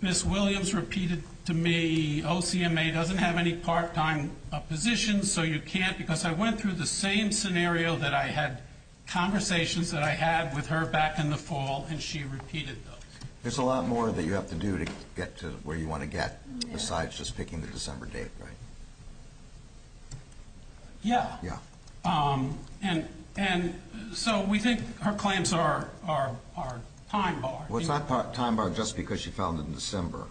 Ms. Williams repeated to me OCMA doesn't have any part time positions so you can't because I went through the same scenario that I had conversations that I had with her back in the fall and she repeated those. There's a lot more that you have to do to get to where you want to get besides just picking the December date, right? Yeah. And so we think her claims are time barred. It's not time barred just because she found it in December.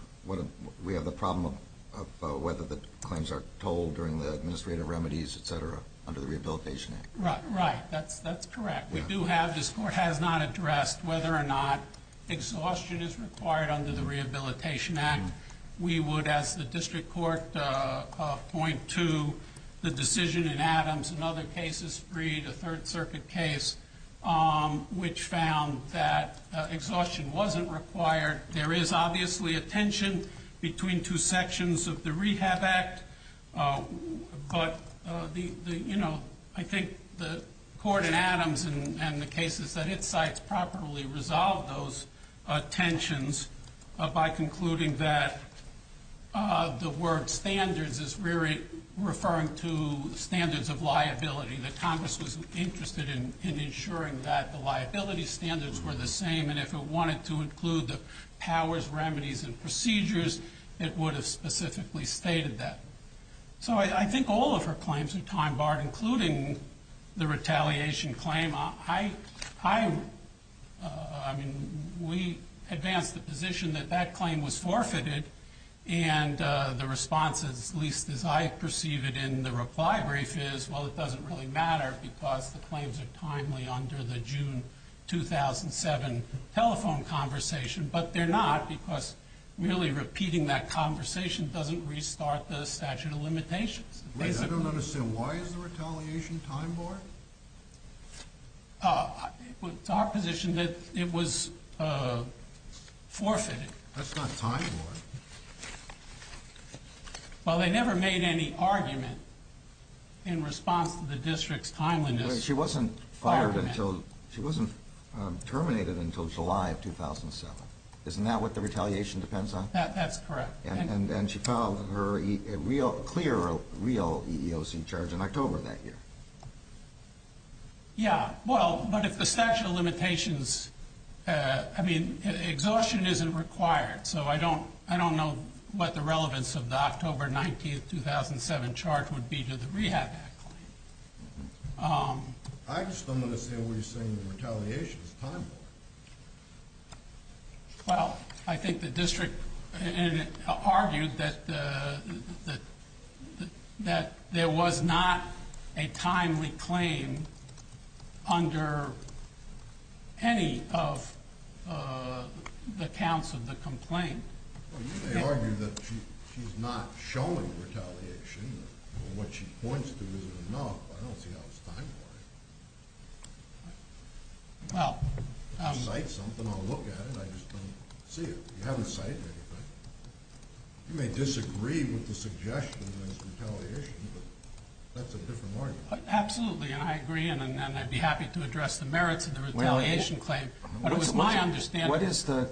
We have the problem of whether the claims are told during the administrative remedies, etc. under the Rehabilitation Act. Right, that's correct. We do have this court has not addressed whether or not exhaustion is required under the Rehabilitation Act. We would as the district court point to the decision in Adams and other cases, Breed, a Third Circuit case which found that exhaustion wasn't required. There is obviously a tension between two sections of the Rehab Act but I think the court in Adams and the cases that it cites properly resolve those tensions by concluding that the word standards is really referring to standards of liability that Congress was interested in ensuring that the liability standards were the same and if it wanted to include the powers, remedies, and procedures it would have specifically stated that. I think all of her claims are time barred including the retaliation claim. We advance the position that that claim was forfeited and the response is at least as I perceive it in the reply brief is well it doesn't really matter because the claims are timely under the June 2007 telephone conversation but they're not because merely repeating that conversation doesn't restart the statute of limitations. I don't understand. Why is the retaliation time barred? It's our position that it was forfeited. That's not time barred. Well they never made any argument in response to the district's timeliness. She wasn't fired until she wasn't terminated until July of 2007. Isn't that what the retaliation depends on? That's correct. And she filed her clear EEOC charge in October that year. Yeah, well, but if the statute of limitations I mean exhaustion isn't required so I don't know what the relevance of the October 19th 2007 charge would be to the Rehab Act claim. I just don't understand what you're saying that retaliation is time barred. Well, I think the district argued that there was not a timely claim under any of the counts of the complaint. You may argue that she's not showing retaliation. What she points to is enough, but I don't see how it's time barred. Well... I'll cite something, I'll look at it, I just don't see it. You haven't cited anything. You may disagree with the suggestion of this retaliation, but that's a different argument. Absolutely, and I agree, and I'd be happy to address the merits of the retaliation claim. But it was my understanding... What is the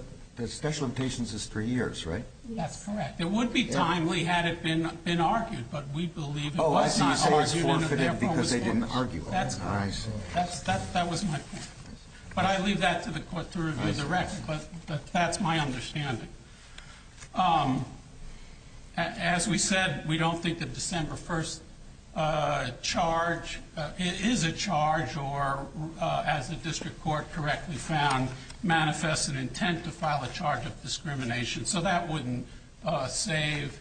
statute of limitations is three years, right? That's correct. It would be timely had it been argued, but we believe it was not argued in their promised language. That's correct. That was my point. But I leave that to the court to review the record. That's my understanding. As we said, we don't think the December 1st charge is a charge or, as the district court correctly found, manifests an intent to file a charge of discrimination, so that wouldn't save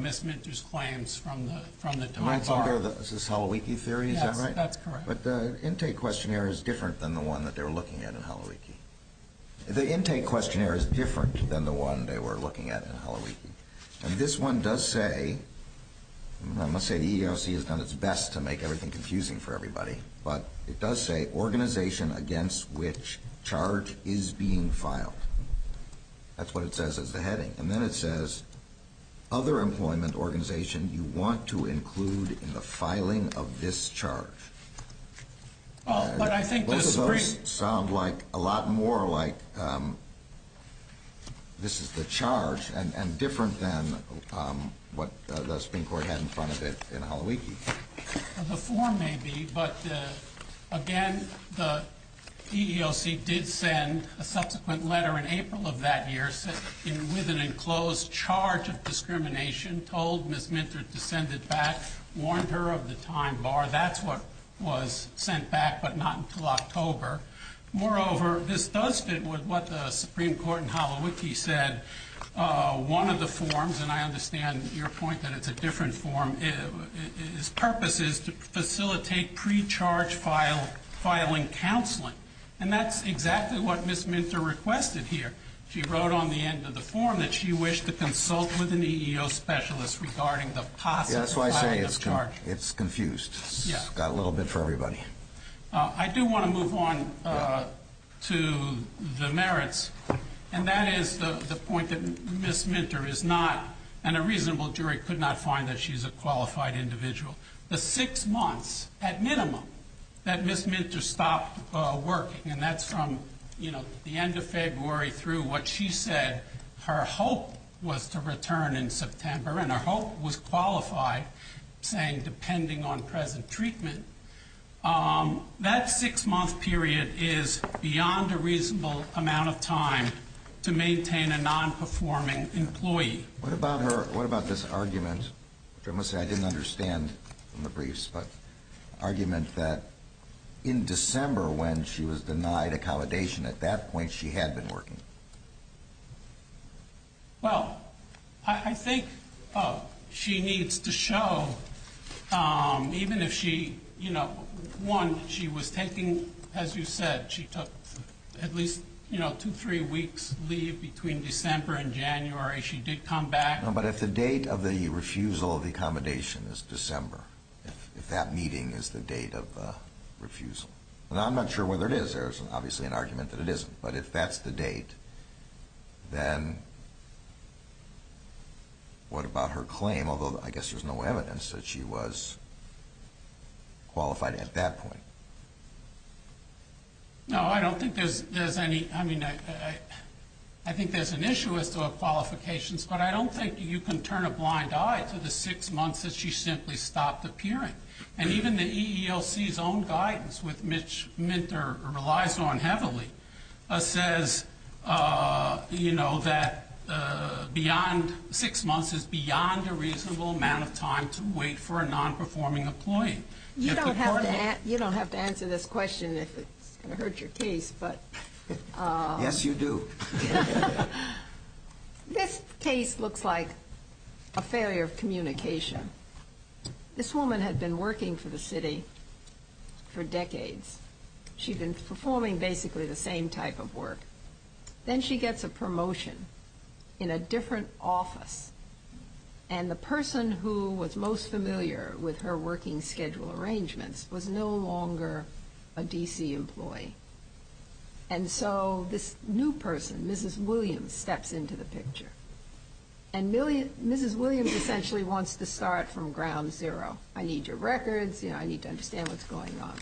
Ms. Minter's claims from the time bar. Is this Holowicki theory, is that right? Yes, that's correct. But the intake questionnaire is different than the one they were looking at in Holowicki. The intake questionnaire is different than the one they were looking at in Holowicki. And this one does say... I must say the EEOC has done its best to make everything confusing for everybody, but it does say organization against which this charge is being filed. That's what it says as the heading. And then it says other employment organization you want to include in the filing of this charge. Both of those sound a lot more like this is the charge, and different than what the Supreme Court had in front of it in Holowicki. The form may be, but again, the EEOC did send a subsequent letter in April of that year with an enclosed charge of discrimination, told Ms. Minter to send it back, warned her of the time bar. That's what was sent back, but not until October. Moreover, this does fit with what the Supreme Court in Holowicki said. One of the forms, and I understand your point that it's a different form, its purpose is to facilitate pre-charge filing counseling. And that's exactly what Ms. Minter requested here. She wrote on the end of the form that she wished to consult with an EEOC specialist regarding the possible filing of charges. That's why I say it's confused. It's got a little bit for everybody. I do want to move on to the merits, and that is the point that Ms. Minter is not, and a reasonable jury could not find that she's a qualified individual. The six months, at minimum, that Ms. Minter stopped working, and that's from the end of February through what she said her hope was to return in September, and her hope was qualified, saying depending on present treatment, that six-month period is beyond a reasonable amount of time to maintain a non-performing employee. What about this argument? I must say I didn't understand from the briefs, but argument that in December when she was denied accommodation, at that point she had been working. Well, I think she needs to show even if she, you know, one, she was taking, as you said, she took at least, you know, two, three weeks leave between December and January. She did come back. But if the date of the refusal of the accommodation is December, if that meeting is the date of the refusal, I'm not sure whether it is. There's obviously an argument that it isn't, but if that's the date, then what about her claim, although I guess there's no evidence that she was qualified at that point? No, I don't think there's any, I mean, I think there's an issue as to her qualifications, but I don't think you can turn a blind eye to the six months that she simply stopped appearing. And even the EEOC's own guidance, which Mitch relies on heavily, says, you know, that beyond six months is beyond a reasonable amount of time to wait for a non-performing employee. You don't have to answer this question if it's going to hurt your case, but... This case looks like a failure of communication. This woman had been working for the city for decades. She'd been performing basically the same type of work. Then she gets a promotion in a different office, and the person who was most familiar with her working schedule arrangements was no longer a D.C. employee. And so this new William steps into the picture. And Mrs. Williams essentially wants to start from ground zero. I need your records, you know, I need to understand what's going on.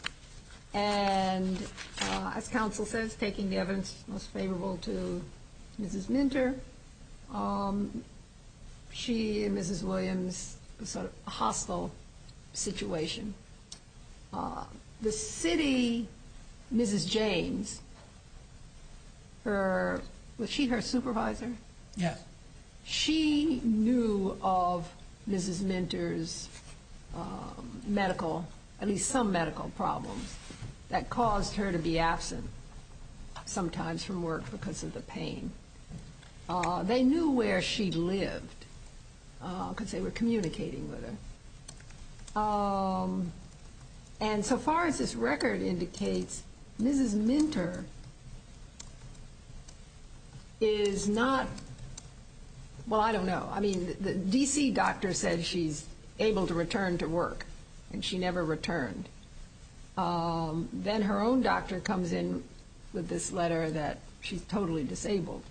And as counsel says, taking the evidence most favorable to Mrs. Minter, she and Mrs. Williams sort of hostile situation. The city, Mrs. James, her... Was she her supervisor? Yes. She knew of Mrs. Minter's medical, at least some medical problems that caused her to be absent sometimes from work because of the pain. They knew where she lived because they were communicating with her. And so far as this record indicates, Mrs. Minter is not... Well, I don't know. I mean, the D.C. doctor said she's able to return to work, and she never returned. Then her own doctor comes in with this letter that she's totally disabled.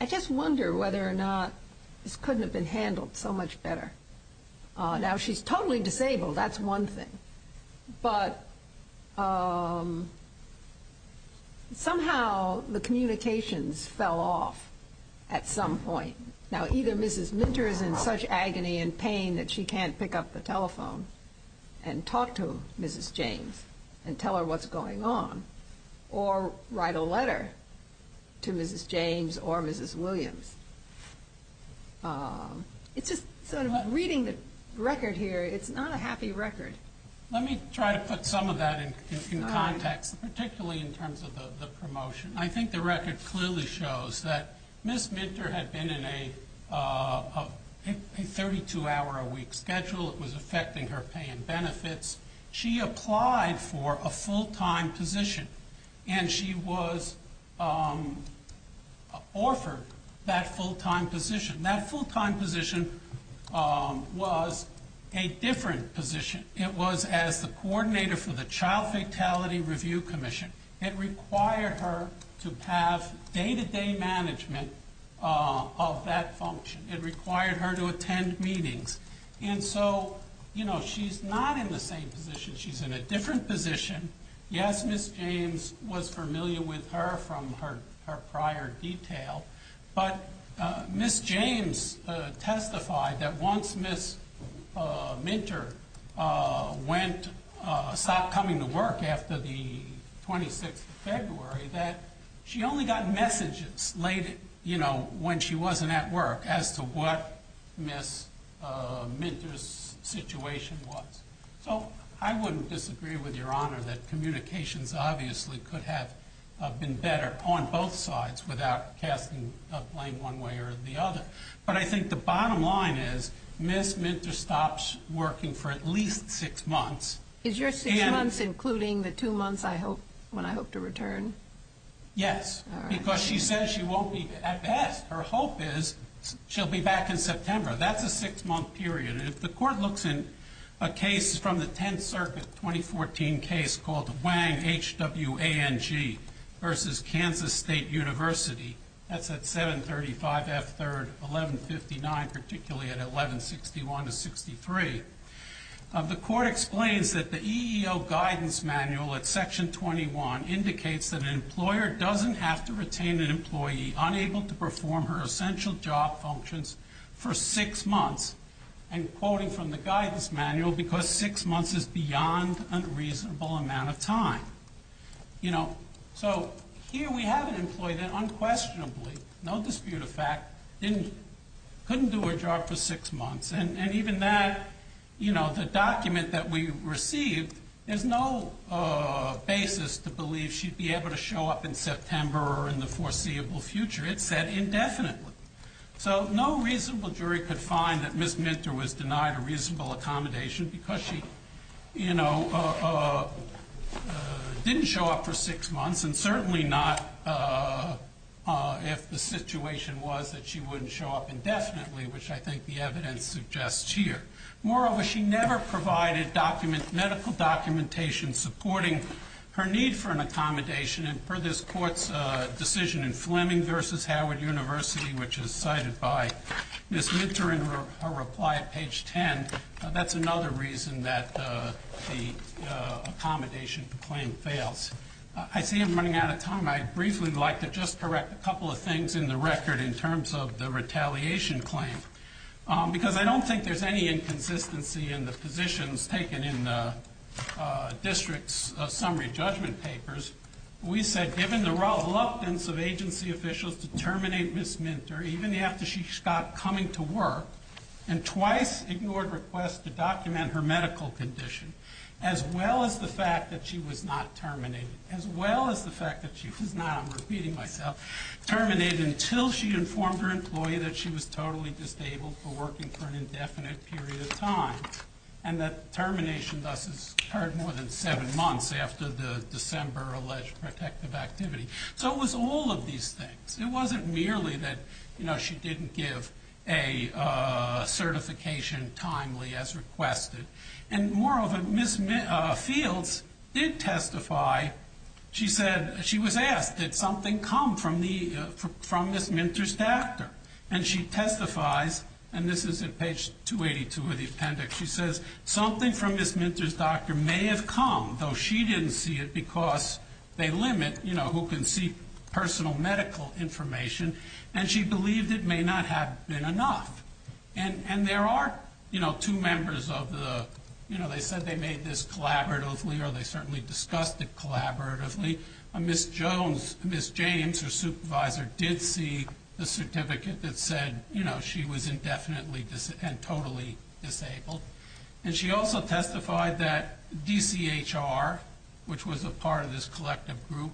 I just wonder whether or not this couldn't have been handled so much better. Now she's totally disabled. That's one thing. But somehow the communications fell off at some point. Now either Mrs. Minter is in such agony and pain that she can't pick up the telephone and talk to Mrs. James and tell her what's going on or write a letter to Mrs. James or Mrs. Williams. It's just not a happy record. Let me try to put some of that in context, particularly in terms of the promotion. I think the record clearly shows that Mrs. Minter had been in a 32-hour-a-week schedule. It was affecting her pay and benefits. She applied for a full-time position, and she was offered that full-time position. That full-time position was a different position. It was as the coordinator for the Child Fatality Review Commission. It required her to have day-to-day management of that function. It required her to attend meetings. And so she's not in the same position. She's in a different position. Yes, Mrs. James was familiar with her from her prior detail, but Mrs. James testified that once Mrs. Minter stopped coming to work after the 26th of February, that she only got messages when she wasn't at work as to what Mrs. Minter's situation was. So I wouldn't disagree with Your Honor that communications obviously could have been better on both sides without casting blame one way or the other. But I think the bottom line is, Mrs. Minter stops working for at least six months. Is your six months including the two months when I hope to return? Yes. Because she says she won't be at best. Her hope is she'll be back in September. That's a six month period. And if the Court looks in a case from the Tenth Circuit 2014 case called Wang, H-W-A-N-G versus Kansas State University that's at 735 F 3rd 1159 particularly at 1161 to 63 the Court explains that the EEO guidance manual at section 21 indicates that an employer doesn't have to retain an employee unable to perform her essential job functions for six months. And quoting from the guidance manual because six months is beyond a reasonable amount of time. You know, so here we have an employee that unquestionably no dispute of fact couldn't do her job for six months. And even that you know, the document that we received, there's no basis to believe she'd be able to show up in September or in the foreseeable future. It said indefinitely. So no reasonable jury could find that Ms. Minter was denied a reasonable accommodation because she, you know, didn't show up for six months and certainly not if the situation was that she wouldn't show up indefinitely which I think the evidence suggests here. Moreover, she never provided medical documentation supporting her need for an accommodation and per this Court's decision in Fleming versus Howard University which is cited by Ms. Minter in her reply at page 10 that's another reason that the accommodation claim fails. I see I'm running out of time. I'd briefly like to just correct a couple of things in the record in terms of the retaliation claim. Because I don't think there's any inconsistency in the positions taken in the district's summary judgment papers. We said given the reluctance of agency officials to terminate Ms. Minter even after she stopped coming to work and twice ignored her request to document her medical condition as well as the fact that she was not terminated as well as the fact that she was not I'm repeating myself, terminated until she informed her employee that she was totally disabled for working for an indefinite period of time and that termination thus occurred more than seven months after the December alleged protective activity. So it was all of these things. It wasn't merely that she didn't give a testimony as requested. And moreover, Ms. Fields did testify. She said, she was asked, did something come from Ms. Minter's doctor? And she testifies, and this is at page 282 of the appendix. She says something from Ms. Minter's doctor may have come, though she didn't see it because they limit who can see personal medical information. And she believed it may not have been enough. And there are two members of the they said they made this collaboratively or they certainly discussed it collaboratively. Ms. James, her supervisor, did see the certificate that said she was indefinitely and totally disabled. And she also testified that DCHR, which was a part of this collective group,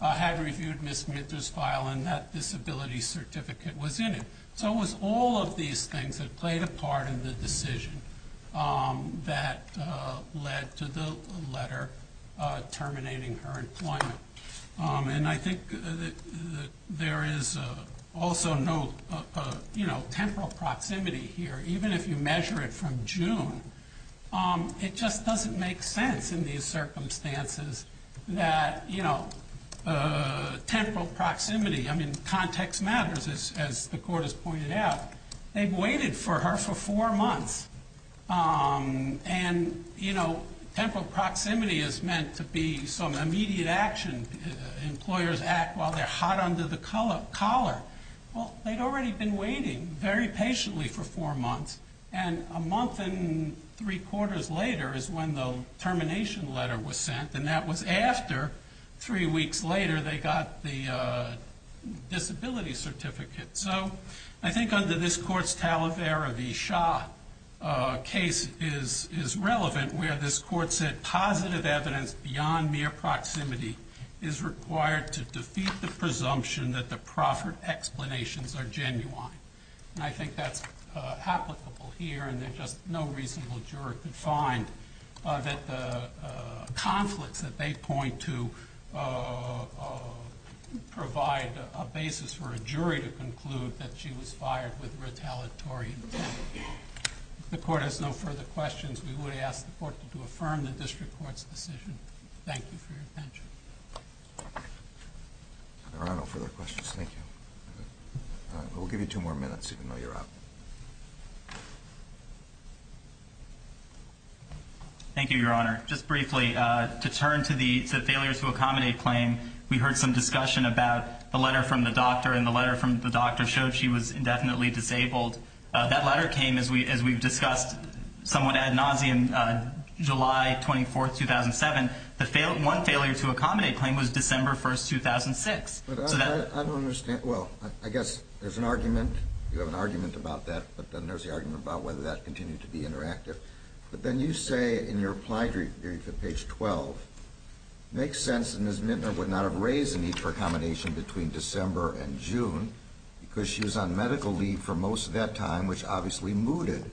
had reviewed Ms. Minter's file and that disability certificate was in it. So it was all of these things that played a part in the decision that led to the letter terminating her employment. And I think there is also no temporal proximity here. Even if you measure it from June, it just doesn't make sense in these circumstances that temporal proximity, I mean, context matters, as the court has pointed out. They've waited for her for four months. And, you know, temporal proximity is meant to be some immediate action. Employers act while they're hot under the collar. Well, they'd already been waiting very patiently for four months. And a month and three quarters later is when the termination letter was sent. And that was after, three weeks later, they got the disability certificate. So, I think under this court's Talavera v. Shah case is relevant, where this court said positive evidence beyond mere proximity is required to defeat the presumption that the proffered explanations are genuine. And I think that's applicable here, and there's just no reasonable juror could find that the conflicts that they provide a basis for a jury to conclude that she was fired with retaliatory intent. If the court has no further questions, we would ask the court to affirm the district court's decision. Thank you for your attention. There are no further questions. Thank you. We'll give you two more minutes, even though you're out. Thank you, Your Honor. Just briefly, to turn to the discussion about the letter from the doctor, and the letter from the doctor showed she was indefinitely disabled. That letter came, as we've discussed, somewhat ad nauseum, July 24, 2007. The one failure to accommodate claim was December 1, 2006. I don't understand. Well, I guess there's an argument. You have an argument about that, but then there's the argument about whether that continued to be interactive. But then you say, in your reply to page 12, it makes sense that Ms. Mintner would not have raised the need for accommodation between December and June because she was on medical leave for most of that time, which obviously mooted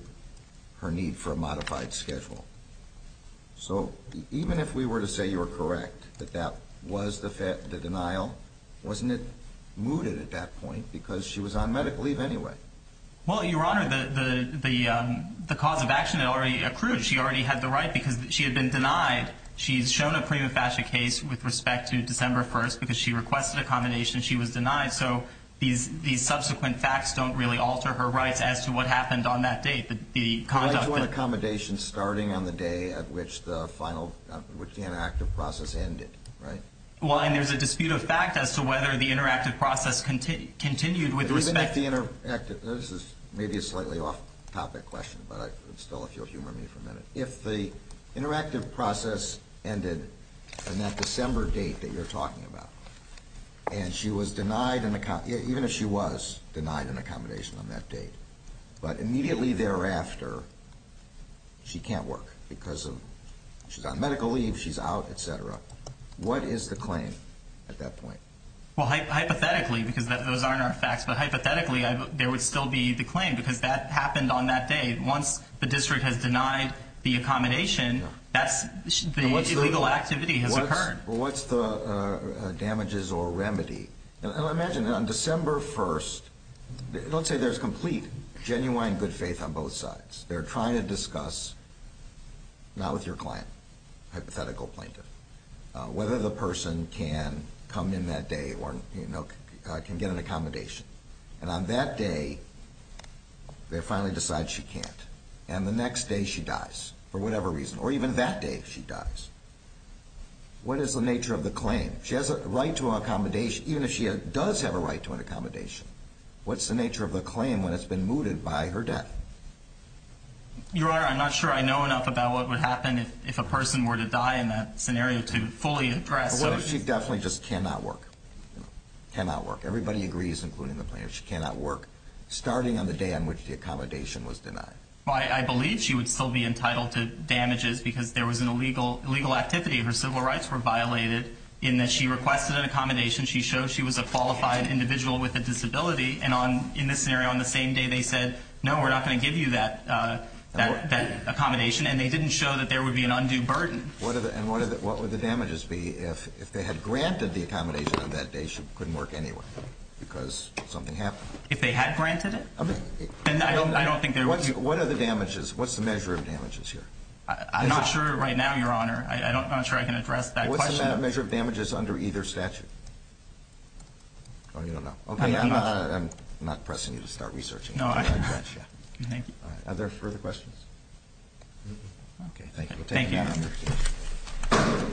her need for a modified schedule. So even if we were to say you were correct that that was the denial, wasn't it mooted at that point because she was on medical leave anyway? Well, Your Honor, the cause of action had already accrued. She already had the right because she had been denied. She's shown a prima facie case with respect to December 1 because she requested accommodation. She was denied. So these subsequent facts don't really alter her rights as to what happened on that date. The conduct that... Why do you want accommodation starting on the day at which the final, which the interactive process ended, right? Well, and there's a dispute of fact as to whether the interactive process continued with respect... Even if the interactive... This is maybe a slightly off-topic question, but still if you'll humor me for a minute. If the interactive process ended on that December date that you're talking about and she was denied an... Even if she was denied an accommodation on that date, but immediately thereafter she can't work because of... She's on medical leave. She's out, etc. What is the claim at that point? Well, hypothetically because those aren't our facts, but hypothetically there would still be the claim because that happened on that date. Once the district has denied the accommodation that's... The illegal activity has occurred. What's the damages or remedy? Imagine on December 1st, let's say there's complete, genuine good faith on both sides. They're trying to discuss not with your client, hypothetical plaintiff, whether the person can come in that day or can get an accommodation. And on that day they finally decide she can't. And the next day she dies, for whatever reason. Or even that day she dies. What is the nature of the claim? She has a right to an accommodation even if she does have a right to an accommodation. What's the nature of the claim when it's been mooted by her death? Your Honor, I'm not sure I know enough about what would happen if a person were to die in that scenario to fully address... But what if she definitely just cannot work? Cannot work starting on the day on which the accommodation was denied? I believe she would still be entitled to damages because there was an illegal activity. Her civil rights were violated in that she requested an accommodation. She showed she was a qualified individual with a disability. And in this scenario on the same day they said, no we're not going to give you that accommodation. And they didn't show that there would be an undue burden. And what would the damages be if they had granted the accommodation on that day she couldn't work anywhere because something happened? If they had granted it? Then I don't think there would be... What's the measure of damages here? I'm not sure right now, Your Honor. I'm not sure I can address that question. What's the measure of damages under either statute? Oh, you don't know. I'm not pressing you to start researching. Are there further questions? Okay, thank you. Thank you, Your Honor.